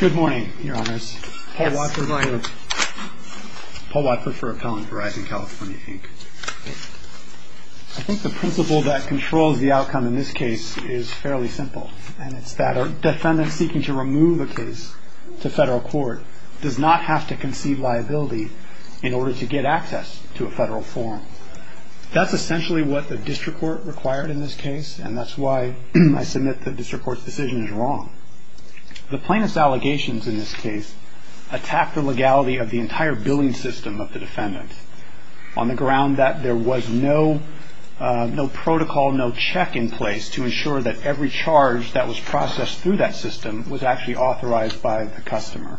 Good morning, your honors. Paul Watford for Verizon California, Inc. I think the principle that controls the outcome in this case is fairly simple. And it's that a defendant seeking to remove a case to federal court does not have to conceive liability in order to get access to a federal form. That's essentially what the district court required in this case, and that's why I submit the district court's decision is wrong. The plaintiff's allegations in this case attack the legality of the entire billing system of the defendant, on the ground that there was no protocol, no check in place to ensure that every charge that was processed through that system was actually authorized by the customer.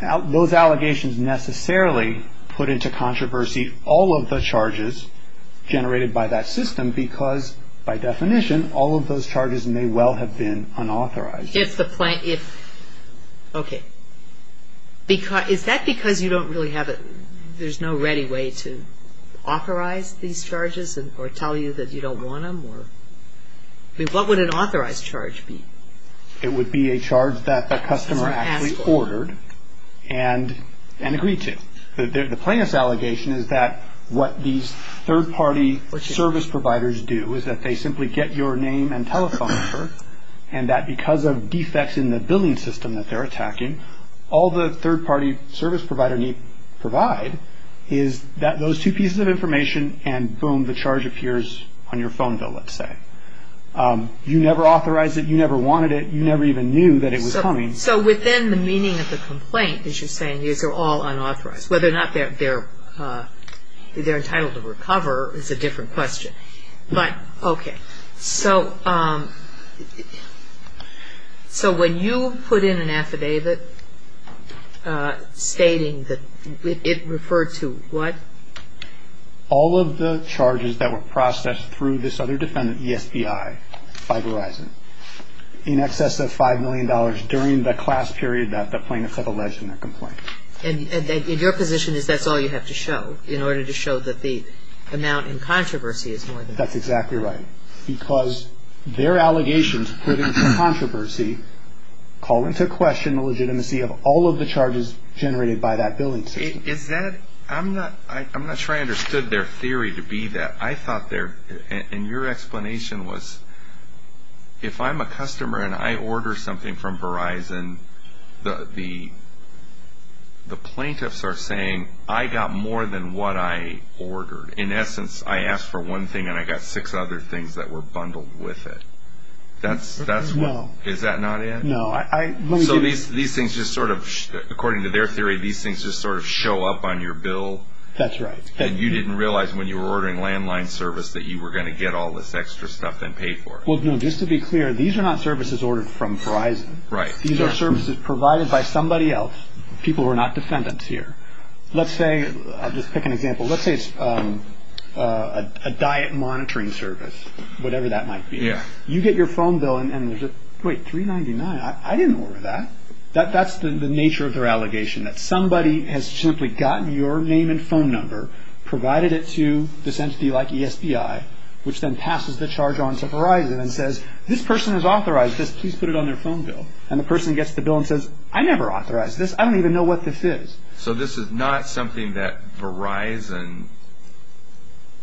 Those allegations necessarily put into controversy all of the charges generated by that system because, by definition, all of those charges may well have been unauthorized. Is that because you don't really have a – there's no ready way to authorize these charges or tell you that you don't want them? What would an authorized charge be? It would be a charge that the customer actually ordered and agreed to. The plaintiff's allegation is that what these third-party service providers do is that they simply get your name and telephone number, and that because of defects in the billing system that they're attacking, all the third-party service provider need provide is those two pieces of information, and boom, the charge appears on your phone bill, let's say. You never authorized it. You never wanted it. You never even knew that it was coming. So within the meaning of the complaint, as you're saying, these are all unauthorized. Whether or not they're entitled to recover is a different question. But, okay, so when you put in an affidavit stating that – it referred to what? All of the charges that were processed through this other defendant, ESBI, by Verizon, in excess of $5 million during the class period that the plaintiff had alleged in that complaint. And your position is that's all you have to show in order to show that the amount in controversy is more than that. That's exactly right. Because their allegations put into controversy call into question the legitimacy of all of the charges generated by that billing system. Is that – I'm not sure I understood their theory to be that. I thought their – and your explanation was if I'm a customer and I order something from Verizon, the plaintiffs are saying I got more than what I ordered. In essence, I asked for one thing and I got six other things that were bundled with it. That's what – is that not it? No. So these things just sort of – according to their theory, these things just sort of show up on your bill? That's right. And you didn't realize when you were ordering landline service that you were going to get all this extra stuff and pay for it. Well, no, just to be clear, these are not services ordered from Verizon. Right. These are services provided by somebody else, people who are not defendants here. Let's say – I'll just pick an example. Let's say it's a diet monitoring service, whatever that might be. Yeah. You get your phone bill and there's a – wait, $3.99? I didn't order that. That's the nature of their allegation, that somebody has simply gotten your name and phone number, provided it to this entity like ESBI, which then passes the charge on to Verizon and says, this person has authorized this. Please put it on their phone bill. And the person gets the bill and says, I never authorized this. I don't even know what this is. So this is not something that Verizon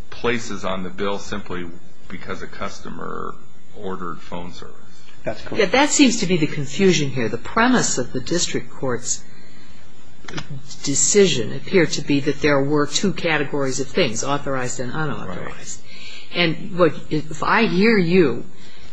places on the bill simply because a customer ordered phone service. That's correct. That seems to be the confusion here. The premise of the district court's decision appeared to be that there were two categories of things, authorized and unauthorized. Right. And if I hear you,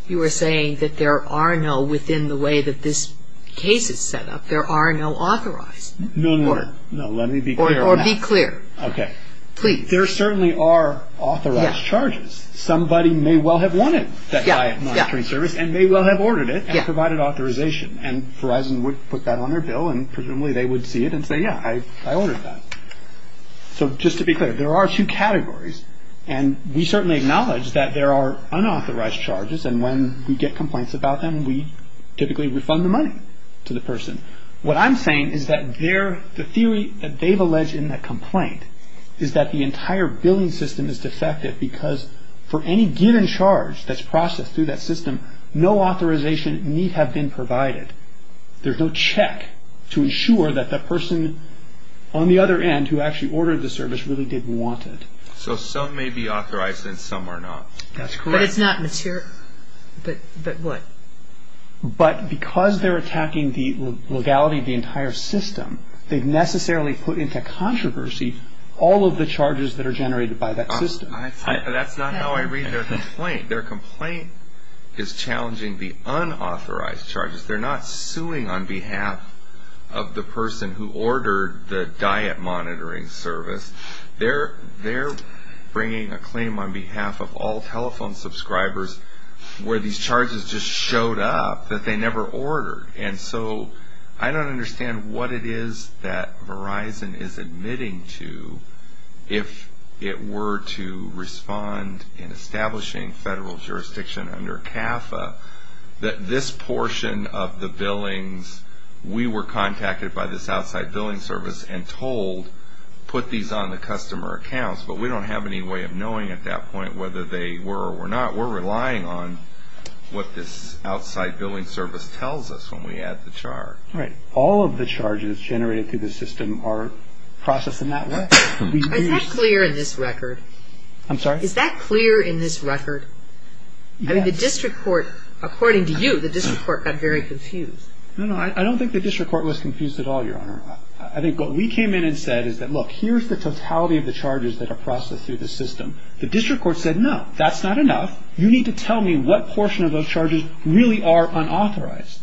you are saying that there are no – within the way that this case is set up, there are no authorized. No, no, no. Let me be clear on that. Or be clear. Okay. Please. There certainly are authorized charges. Somebody may well have wanted that client monitoring service and may well have ordered it and provided authorization. And Verizon would put that on their bill and presumably they would see it and say, yeah, I ordered that. So just to be clear, there are two categories. And we certainly acknowledge that there are unauthorized charges. And when we get complaints about them, we typically refund the money to the person. What I'm saying is that the theory that they've alleged in that complaint is that the entire billing system is defective because for any given charge that's processed through that system, no authorization need have been provided. There's no check to ensure that the person on the other end who actually ordered the service really did want it. So some may be authorized and some are not. That's correct. But it's not material. But what? But because they're attacking the legality of the entire system, they've necessarily put into controversy all of the charges that are generated by that system. That's not how I read their complaint. Their complaint is challenging the unauthorized charges. They're not suing on behalf of the person who ordered the diet monitoring service. They're bringing a claim on behalf of all telephone subscribers where these charges just showed up that they never ordered. And so I don't understand what it is that Verizon is admitting to if it were to respond in establishing federal jurisdiction under CAFA that this portion of the billings, we were contacted by this outside billing service and told put these on the customer accounts. But we don't have any way of knowing at that point whether they were or were not. We're relying on what this outside billing service tells us when we add the charge. Right. All of the charges generated through the system are processed in that way. Is that clear in this record? I'm sorry? Is that clear in this record? Yes. I mean the district court, according to you, the district court got very confused. No, no. I don't think the district court was confused at all, Your Honor. I think what we came in and said is that look, here's the totality of the charges that are processed through the system. The district court said no, that's not enough. You need to tell me what portion of those charges really are unauthorized.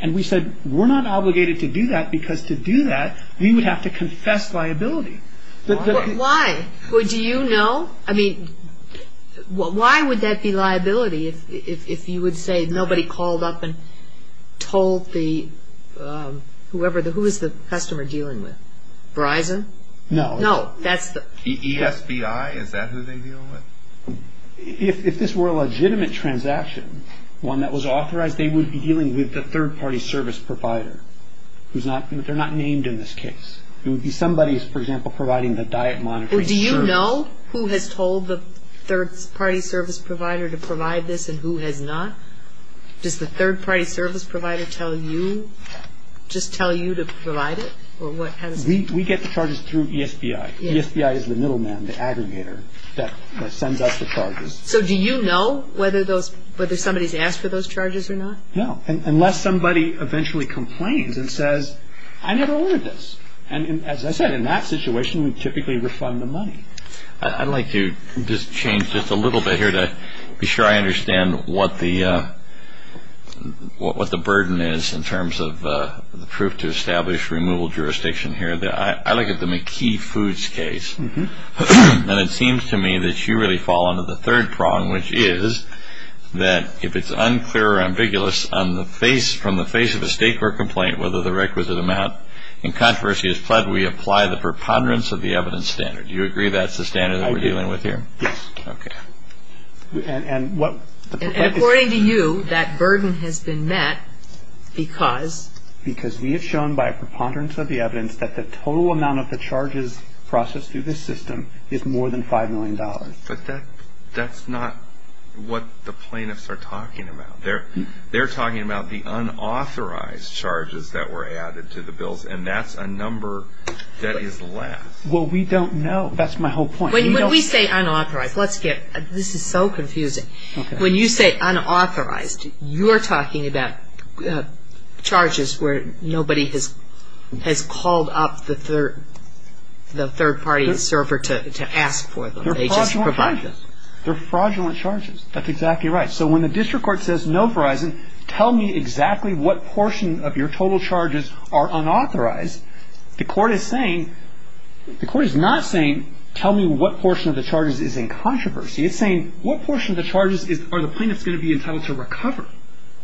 And we said we're not obligated to do that because to do that we would have to confess liability. Why? Well, do you know? I mean, why would that be liability if you would say nobody called up and told the whoever, who is the customer dealing with? Verizon? No. No. ESBI, is that who they deal with? If this were a legitimate transaction, one that was authorized, they would be dealing with the third party service provider. They're not named in this case. It would be somebody, for example, providing the diet monitoring service. Do you know who has told the third party service provider to provide this and who has not? Does the third party service provider tell you, just tell you to provide it? We get the charges through ESBI. ESBI is the middle man, the aggregator that sends us the charges. So do you know whether somebody's asked for those charges or not? No, unless somebody eventually complains and says, I never ordered this. As I said, in that situation, we typically refund the money. I'd like to just change just a little bit here to be sure I understand what the burden is in terms of the proof to establish removal jurisdiction here. I look at the McKee Foods case, and it seems to me that you really fall under the third prong, which is that if it's unclear or ambiguous from the face of a state court complaint whether the requisite amount in controversy is pledged, we apply the preponderance of the evidence standard. Do you agree that's the standard that we're dealing with here? Yes. Okay. And according to you, that burden has been met because? Because we have shown by preponderance of the evidence that the total amount of the charges processed through this system is more than $5 million. But that's not what the plaintiffs are talking about. They're talking about the unauthorized charges that were added to the bills, and that's a number that is less. Well, we don't know. That's my whole point. When we say unauthorized, let's get – this is so confusing. When you say unauthorized, you're talking about charges where nobody has called up the third party server to ask for them. They're fraudulent charges. They're fraudulent charges. That's exactly right. So when the district court says, no, Verizon, tell me exactly what portion of your total charges are unauthorized, the court is saying – the court is not saying tell me what portion of the charges is in controversy. It's saying what portion of the charges are the plaintiffs going to be entitled to recover.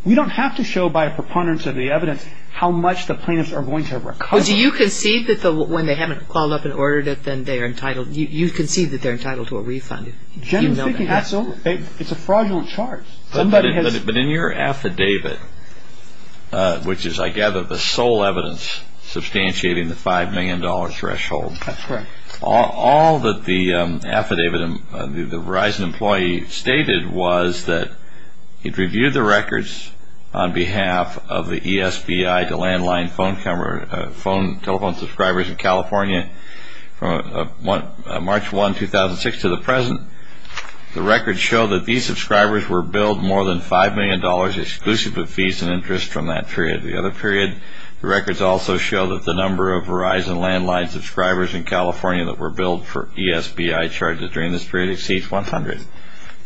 We don't have to show by preponderance of the evidence how much the plaintiffs are going to recover. Well, do you concede that when they haven't called up and ordered it, then they are entitled – you concede that they're entitled to a refund? Generally speaking, absolutely. It's a fraudulent charge. But in your affidavit, which is, I gather, the sole evidence substantiating the $5 million threshold. That's correct. All that the affidavit – the Verizon employee stated was that he'd reviewed the records on behalf of the ESBI to landline telephone subscribers in California from March 1, 2006 to the present. The records show that these subscribers were billed more than $5 million exclusive of fees and interest from that period. The records also show that the number of Verizon landline subscribers in California that were billed for ESBI charges during this period exceeds 100.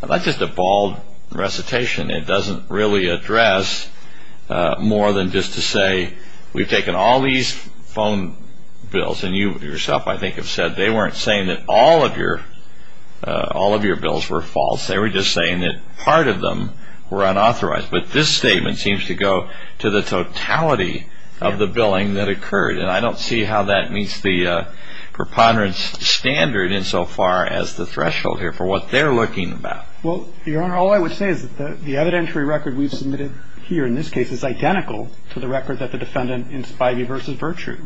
That's just a bald recitation. It doesn't really address more than just to say we've taken all these phone bills. And you yourself, I think, have said they weren't saying that all of your bills were false. They were just saying that part of them were unauthorized. But this statement seems to go to the totality of the billing that occurred. And I don't see how that meets the preponderance standard insofar as the threshold here for what they're looking about. Well, Your Honor, all I would say is that the evidentiary record we've submitted here in this case is identical to the record that the defendant in Spivey v. Virtue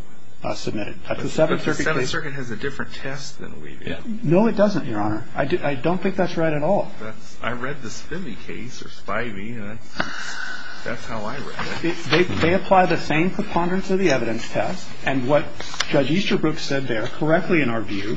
submitted. But the Seventh Circuit has a different test than we do. No, it doesn't, Your Honor. I don't think that's right at all. I read the Spivey case, or Spivey, and that's how I read it. They apply the same preponderance of the evidence test. And what Judge Easterbrook said there correctly in our view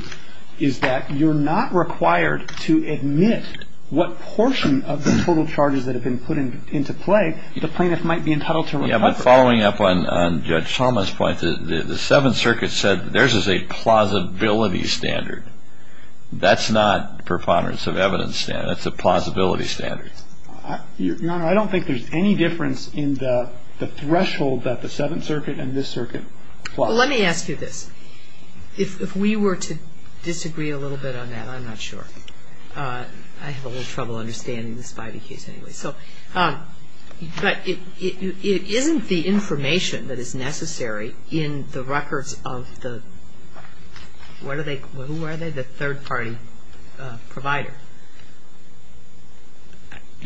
is that you're not required to admit what portion of the total charges that have been put into play the plaintiff might be entitled to recover. Yeah, but following up on Judge Thomas' point, the Seventh Circuit said theirs is a plausibility standard. That's not preponderance of evidence standard. That's a plausibility standard. Your Honor, I don't think there's any difference in the threshold that the Seventh Circuit and this circuit apply. Well, let me ask you this. If we were to disagree a little bit on that, I'm not sure. I have a little trouble understanding the Spivey case anyway. But it isn't the information that is necessary in the records of the third-party provider.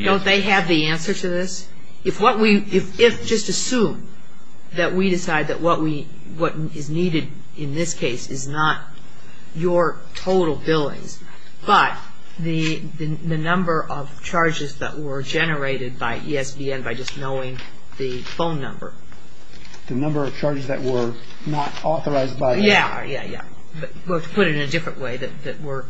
Don't they have the answer to this? If just assume that we decide that what is needed in this case is not your total billings, but the number of charges that were generated by ESPN by just knowing the phone number. The number of charges that were not authorized by ESPN. Yeah, yeah, yeah. But to put it in a different way, that were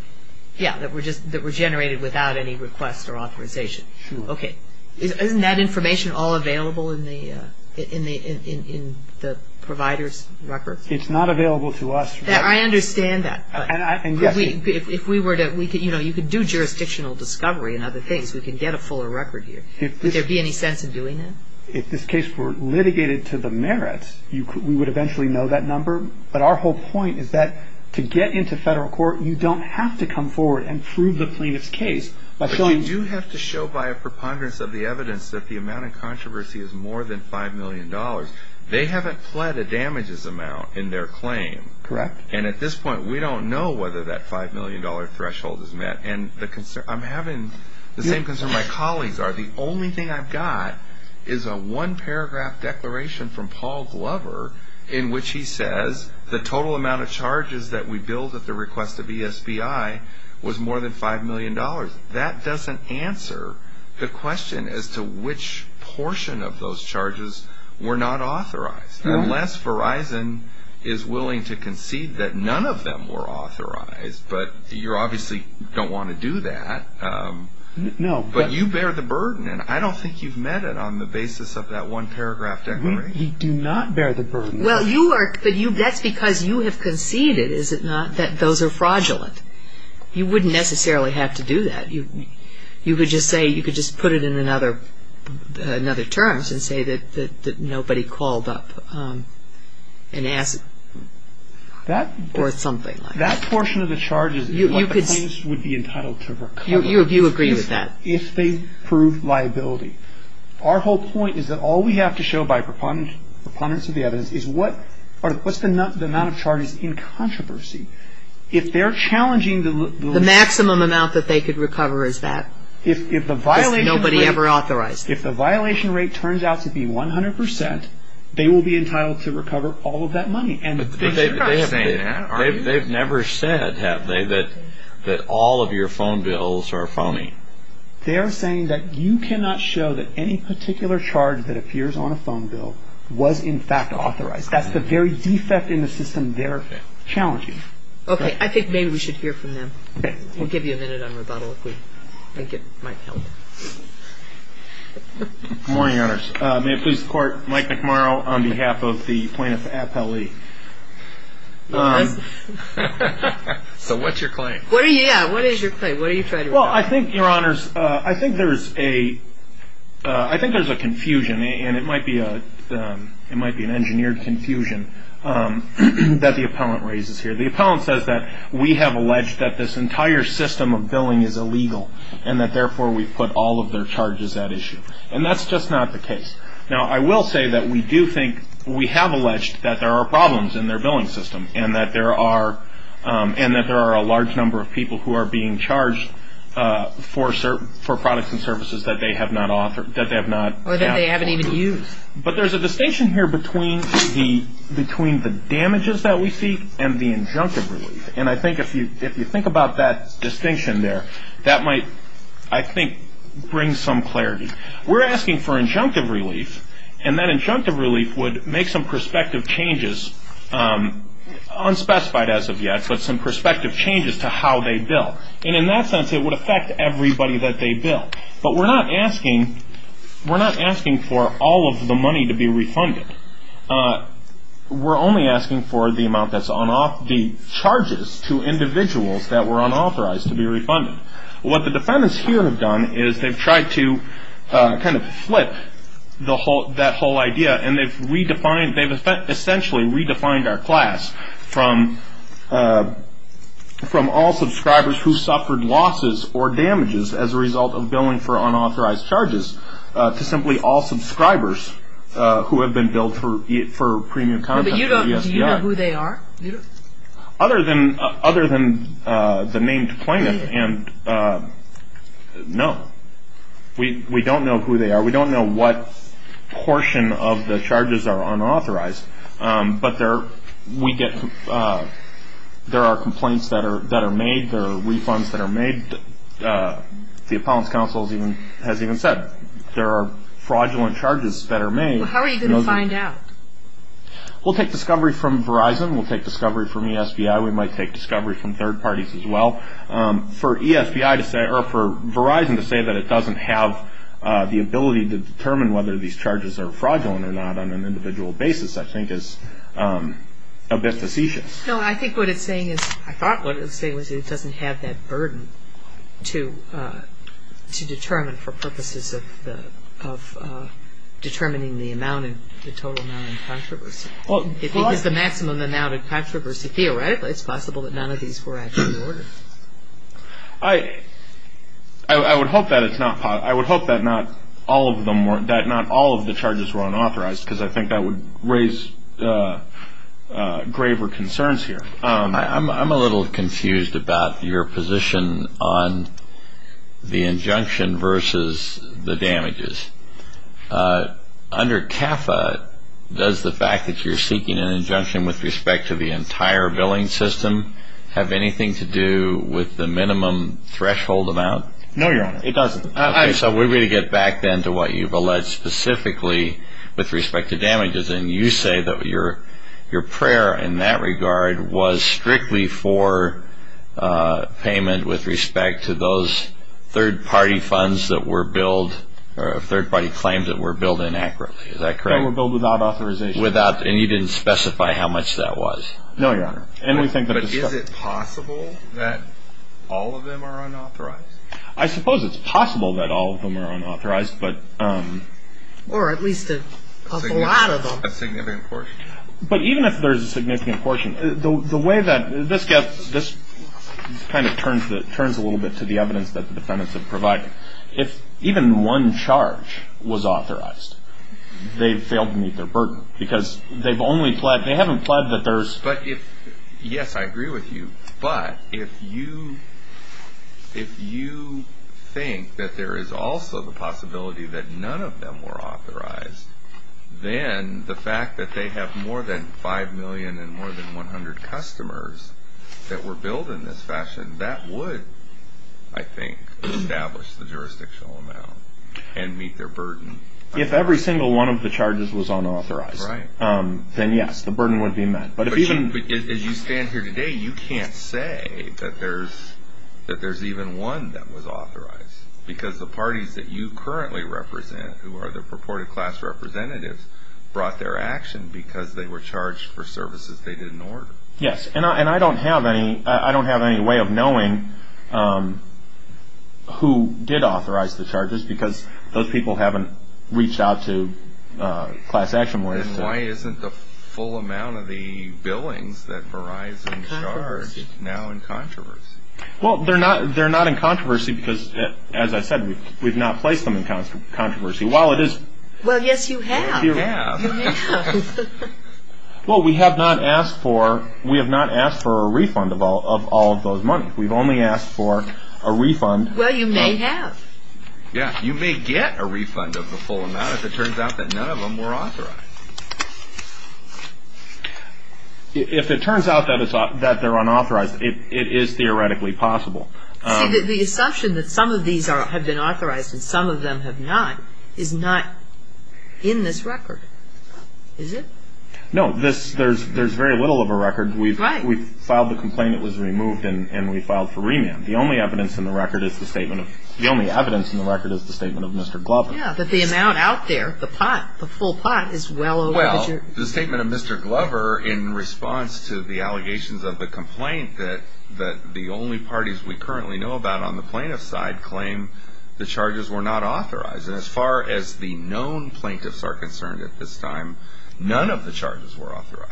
generated without any request or authorization. Sure. Okay. Isn't that information all available in the provider's records? It's not available to us. I understand that. If we were to, you know, you could do jurisdictional discovery and other things. We could get a fuller record here. Would there be any sense in doing that? If this case were litigated to the merits, we would eventually know that number. But our whole point is that to get into federal court, you don't have to come forward and prove the plaintiff's case. But you do have to show by a preponderance of the evidence that the amount of controversy is more than $5 million. They haven't pled a damages amount in their claim. Correct. And at this point, we don't know whether that $5 million threshold is met. And I'm having the same concern my colleagues are. The only thing I've got is a one-paragraph declaration from Paul Glover in which he says the total amount of charges that we billed at the request of ESBI was more than $5 million. That doesn't answer the question as to which portion of those charges were not authorized. Unless Verizon is willing to concede that none of them were authorized. But you obviously don't want to do that. No. But you bear the burden. And I don't think you've met it on the basis of that one-paragraph declaration. We do not bear the burden. Well, that's because you have conceded, is it not, that those are fraudulent. You wouldn't necessarily have to do that. You could just say, you could just put it in another terms and say that nobody called up and asked for something like that. That portion of the charges is what the plaintiffs would be entitled to recover. You agree with that. If they prove liability. Our whole point is that all we have to show by preponderance of the evidence is what's the amount of charges in controversy. If they're challenging the. The maximum amount that they could recover is that. If the violation rate. Is nobody ever authorized. If the violation rate turns out to be 100 percent, they will be entitled to recover all of that money. But they're not saying that, are you? They've never said, have they, that all of your phone bills are phony. They're saying that you cannot show that any particular charge that appears on a phone bill was in fact authorized. That's the very defect in the system they're challenging. OK. I think maybe we should hear from them. We'll give you a minute on rebuttal if we think it might help. Good morning, Your Honors. May it please the Court. Mike McMorrow on behalf of the plaintiff's appellee. So what's your claim? What are you. What is your claim? What are you trying to. Well, I think, Your Honors. I think there's a. I think there's a confusion. And it might be an engineered confusion that the appellant raises here. The appellant says that we have alleged that this entire system of billing is illegal and that therefore we've put all of their charges at issue. And that's just not the case. Now, I will say that we do think we have alleged that there are problems in their billing system and that there are a large number of people who are being charged for products and services that they have not. Or that they haven't even used. But there's a distinction here between the damages that we see and the injunctive relief. And I think if you think about that distinction there, that might, I think, bring some clarity. We're asking for injunctive relief. And that injunctive relief would make some prospective changes, unspecified as of yet, but some prospective changes to how they bill. And in that sense, it would affect everybody that they bill. But we're not asking for all of the money to be refunded. We're only asking for the amount that's on off the charges to individuals that were unauthorized to be refunded. What the defendants here have done is they've tried to kind of flip that whole idea. And they've essentially redefined our class from all subscribers who suffered losses or damages as a result of billing for unauthorized charges to simply all subscribers who have been billed for premium content. But do you know who they are? Other than the named plaintiff, no. We don't know who they are. We don't know what portion of the charges are unauthorized. But there are complaints that are made. There are refunds that are made. The appellant's counsel has even said there are fraudulent charges that are made. How are you going to find out? We'll take discovery from Verizon. We'll take discovery from ESBI. We might take discovery from third parties as well. For ESBI to say or for Verizon to say that it doesn't have the ability to determine whether these charges are fraudulent or not on an individual basis, I think is a bit facetious. No, I think what it's saying is, I thought what it was saying was it doesn't have that burden to determine for purposes of determining the amount and the total amount in controversy. If it was the maximum amount in controversy, theoretically it's possible that none of these were actually ordered. I would hope that it's not. I would hope that not all of the charges were unauthorized because I think that would raise graver concerns here. I'm a little confused about your position on the injunction versus the damages. Under CAFA, does the fact that you're seeking an injunction with respect to the entire billing system have anything to do with the minimum threshold amount? No, Your Honor, it doesn't. Okay, so we're going to get back then to what you've alleged specifically with respect to damages. And you say that your prayer in that regard was strictly for payment with respect to those third-party funds that were billed, or third-party claims that were billed inaccurately, is that correct? They were billed without authorization. Without, and you didn't specify how much that was? No, Your Honor. But is it possible that all of them are unauthorized? I suppose it's possible that all of them are unauthorized. Or at least a lot of them. A significant portion. But even if there's a significant portion, the way that this kind of turns a little bit to the evidence that the defendants have provided, if even one charge was authorized, they've failed to meet their burden because they haven't pled that there's – that none of them were authorized, then the fact that they have more than 5 million and more than 100 customers that were billed in this fashion, that would, I think, establish the jurisdictional amount and meet their burden. If every single one of the charges was unauthorized, then yes, the burden would be met. But if even – But as you stand here today, you can't say that there's even one that was authorized. Because the parties that you currently represent, who are the purported class representatives, brought their action because they were charged for services they didn't order. Yes, and I don't have any – I don't have any way of knowing who did authorize the charges because those people haven't reached out to class action lawyers to – Then why isn't the full amount of the billings that Verizon charged now in controversy? Well, they're not in controversy because, as I said, we've not placed them in controversy. Well, it is – Well, yes, you have. You have. You may have. Well, we have not asked for – we have not asked for a refund of all of those money. We've only asked for a refund of – Well, you may have. Yes, you may get a refund of the full amount if it turns out that none of them were authorized. If it turns out that they're unauthorized, it is theoretically possible. See, the assumption that some of these have been authorized and some of them have not is not in this record, is it? No. There's very little of a record. Right. We've filed the complaint. It was removed, and we filed for remand. The only evidence in the record is the statement of – the only evidence in the record is the statement of Mr. Glover. Yes, that the amount out there, the pot, the full pot is well over – Well, the statement of Mr. Glover in response to the allegations of the complaint that the only parties we currently know about on the plaintiff's side claim the charges were not authorized. And as far as the known plaintiffs are concerned at this time, none of the charges were authorized.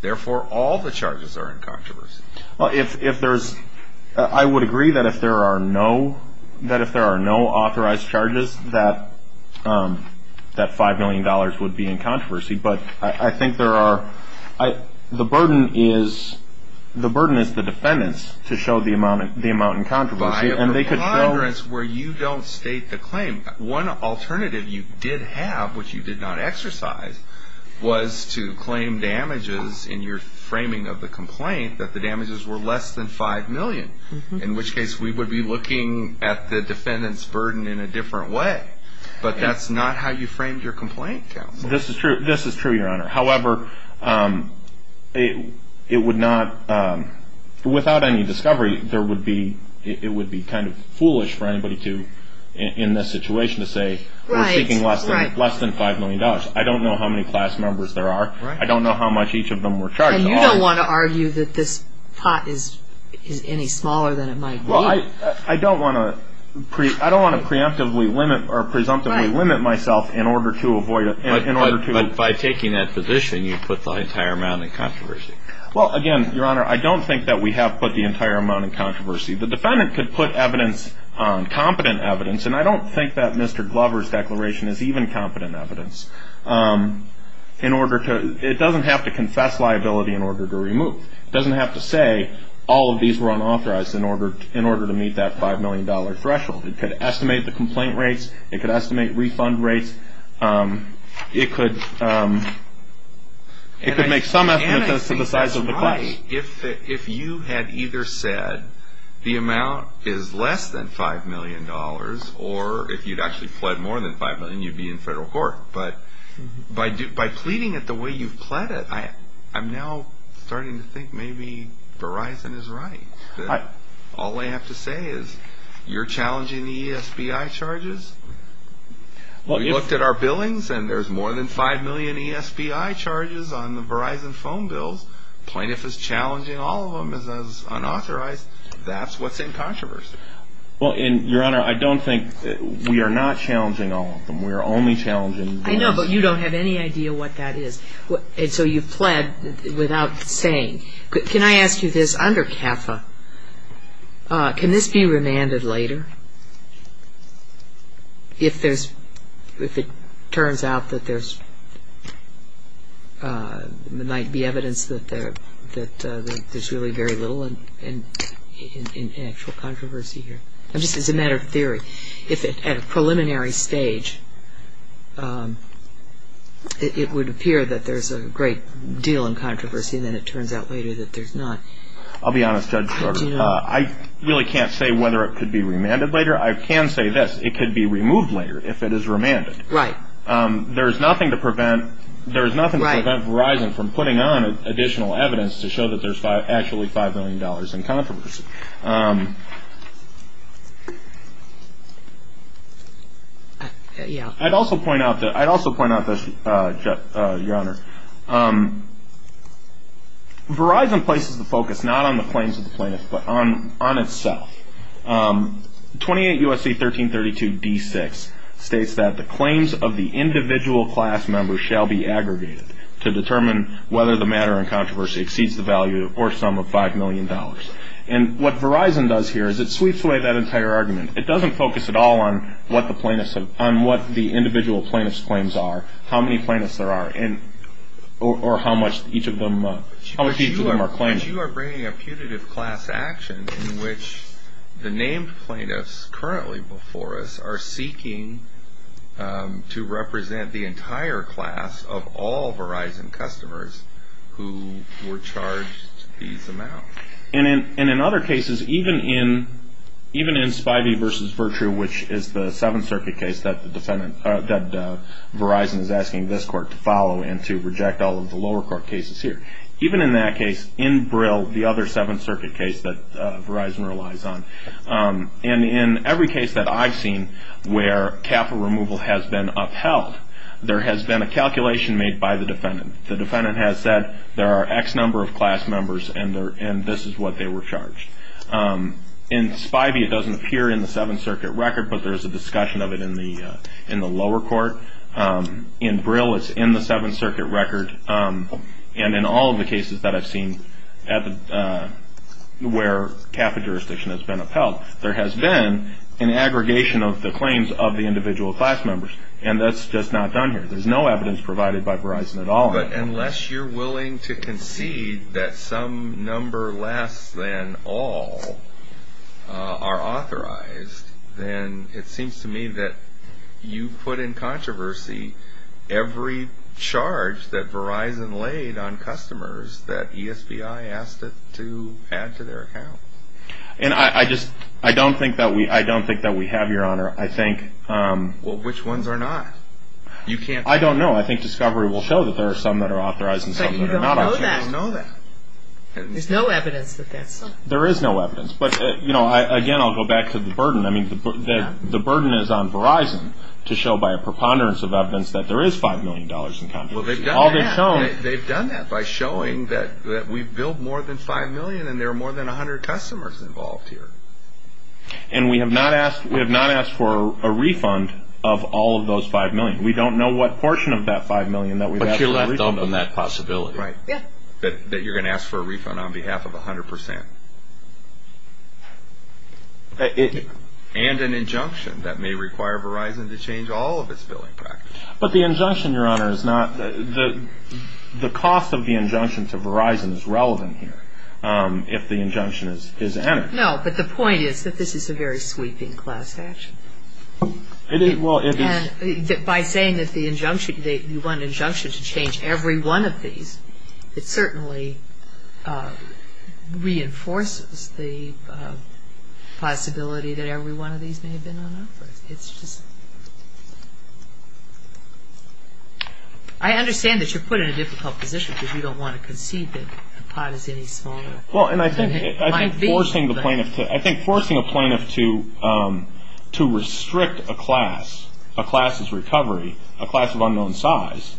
Therefore, all the charges are in controversy. Well, if there's – I would agree that if there are no – that if there are no authorized charges, that $5 million would be in controversy. But I think there are – the burden is – the burden is the defendants to show the amount in controversy. By a preponderance where you don't state the claim. One alternative you did have, which you did not exercise, was to claim damages in your framing of the complaint that the damages were less than $5 million, in which case we would be looking at the defendant's burden in a different way. But that's not how you framed your complaint, counsel. This is true. This is true, Your Honor. However, it would not – without any discovery, there would be – it would be kind of foolish for anybody to, in this situation, to say we're seeking less than $5 million. I don't know how many class members there are. I don't know how much each of them were charged. And you don't want to argue that this pot is any smaller than it might be. Well, I don't want to – I don't want to preemptively limit or presumptively limit myself in order to avoid – in order to – In your position, you put the entire amount in controversy. Well, again, Your Honor, I don't think that we have put the entire amount in controversy. The defendant could put evidence – competent evidence – and I don't think that Mr. Glover's declaration is even competent evidence – in order to – it doesn't have to confess liability in order to remove. It doesn't have to say all of these were unauthorized in order to meet that $5 million threshold. It could estimate the complaint rates. It could estimate refund rates. It could – it could make some estimates as to the size of the cost. And I think that's right if you had either said the amount is less than $5 million or if you'd actually pled more than $5 million, you'd be in federal court. But by pleading it the way you've pled it, I'm now starting to think maybe Verizon is right. All I have to say is you're challenging the ESBI charges? We looked at our billings, and there's more than 5 million ESBI charges on the Verizon phone bills. Plaintiff is challenging all of them as unauthorized. That's what's in controversy. Well, and, Your Honor, I don't think – we are not challenging all of them. We are only challenging – I know, but you don't have any idea what that is. And so you've pled without saying. Can I ask you this? Under CAFA, can this be remanded later if there's – if it turns out that there might be evidence that there's really very little in actual controversy here? Just as a matter of theory. If at a preliminary stage it would appear that there's a great deal in controversy, then it turns out later that there's not. I'll be honest, Judge Sorgen. I really can't say whether it could be remanded later. I can say this. It could be removed later if it is remanded. Right. There is nothing to prevent Verizon from putting on additional evidence to show that there's actually $5 million in controversy. I'd also point out this, Your Honor. Verizon places the focus not on the claims of the plaintiffs, but on itself. 28 U.S.C. 1332 D6 states that the claims of the individual class member shall be aggregated to determine whether the matter in controversy exceeds the value or sum of $5 million. What Verizon does here is it sweeps away that entire argument. It doesn't focus at all on what the individual plaintiff's claims are, how many plaintiffs there are, or how much each of them are claiming. But you are bringing a putative class action in which the named plaintiffs currently before us are seeking to represent the entire class of all Verizon customers who were charged these amounts. And in other cases, even in Spivey v. Virtrue, which is the Seventh Circuit case that Verizon is asking this court to follow and to reject all of the lower court cases here, even in that case, in Brill, the other Seventh Circuit case that Verizon relies on, and in every case that I've seen where CAFA removal has been upheld, there has been a calculation made by the defendant. The defendant has said there are X number of class members and this is what they were charged. In Spivey, it doesn't appear in the Seventh Circuit record, but there's a discussion of it in the lower court. In Brill, it's in the Seventh Circuit record. And in all of the cases that I've seen where CAFA jurisdiction has been upheld, there has been an aggregation of the claims of the individual class members, and that's just not done here. There's no evidence provided by Verizon at all. But unless you're willing to concede that some number less than all are authorized, then it seems to me that you put in controversy every charge that Verizon laid on customers that ESBI asked it to add to their account. And I just don't think that we have, Your Honor. Well, which ones are not? I don't know. I think discovery will show that there are some that are authorized and some that are not. But you don't know that. There's no evidence that that's so. There is no evidence. But, you know, again, I'll go back to the burden. I mean, the burden is on Verizon to show by a preponderance of evidence that there is $5 million in controversy. They've done that by showing that we've billed more than $5 million and there are more than 100 customers involved here. And we have not asked for a refund of all of those $5 million. We don't know what portion of that $5 million that we've asked for a refund. But you're left open to that possibility. Right. That you're going to ask for a refund on behalf of 100%. And an injunction that may require Verizon to change all of its billing practices. But the injunction, Your Honor, is not the cost of the injunction to Verizon is relevant here if the injunction is entered. No, but the point is that this is a very sweeping class action. Well, it is. And by saying that the injunction, you want an injunction to change every one of these, it certainly reinforces the possibility that every one of these may have been on offer. It's just. I understand that you're put in a difficult position because you don't want to concede that the pot is any smaller. Well, and I think forcing a plaintiff to restrict a class, a class's recovery, a class of unknown size,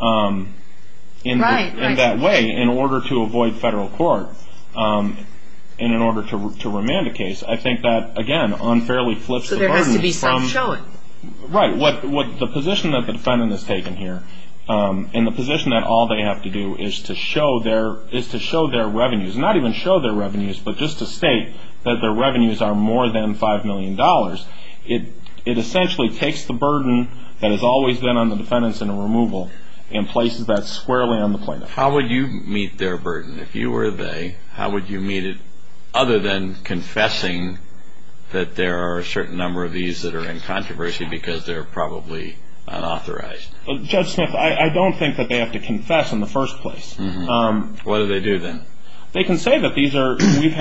in that way, in order to avoid federal court and in order to remand a case, I think that, again, unfairly flips the burden. So there has to be self-showing. Right. The position that the defendant has taken here and the position that all they have to do is to show their revenues, not even show their revenues, but just to state that their revenues are more than $5 million, it essentially takes the burden that has always been on the defendants in a removal and places that squarely on the plaintiff. How would you meet their burden? If you were they, how would you meet it other than confessing that there are a certain number of these that are in controversy because they're probably unauthorized? Judge Smith, I don't think that they have to confess in the first place. What do they do then? They can say that we've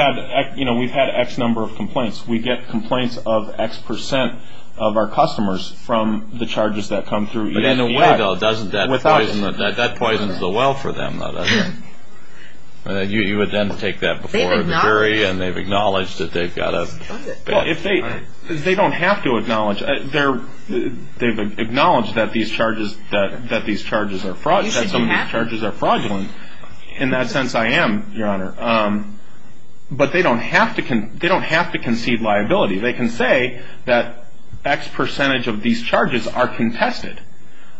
had X number of complaints. We get complaints of X percent of our customers from the charges that come through. But in a way, though, doesn't that poison the well for them? You would then take that before the jury and they've acknowledged that they've got a... They've acknowledged that some of these charges are fraudulent. In that sense, I am, Your Honor. But they don't have to concede liability. They can say that X percentage of these charges are contested.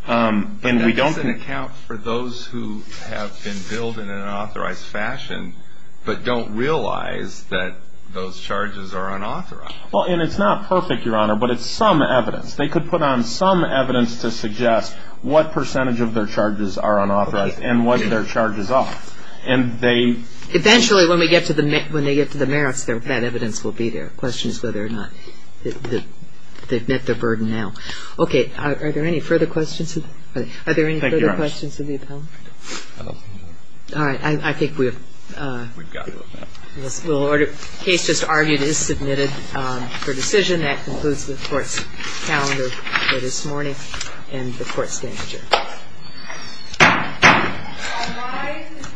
But that doesn't account for those who have been billed in an unauthorized fashion but don't realize that those charges are unauthorized. Well, and it's not perfect, Your Honor, but it's some evidence. They could put on some evidence to suggest what percentage of their charges are unauthorized and what their charges are. And they... Eventually, when they get to the merits, that evidence will be there. The question is whether or not they've met their burden now. Okay. Are there any further questions? Thank you, Your Honor. Are there any further questions of the appellant? No. All right. I think we've... We've got to... The case just argued is submitted for decision. That concludes the court's calendar for this morning and the court's manager. All rise. This question is subject to...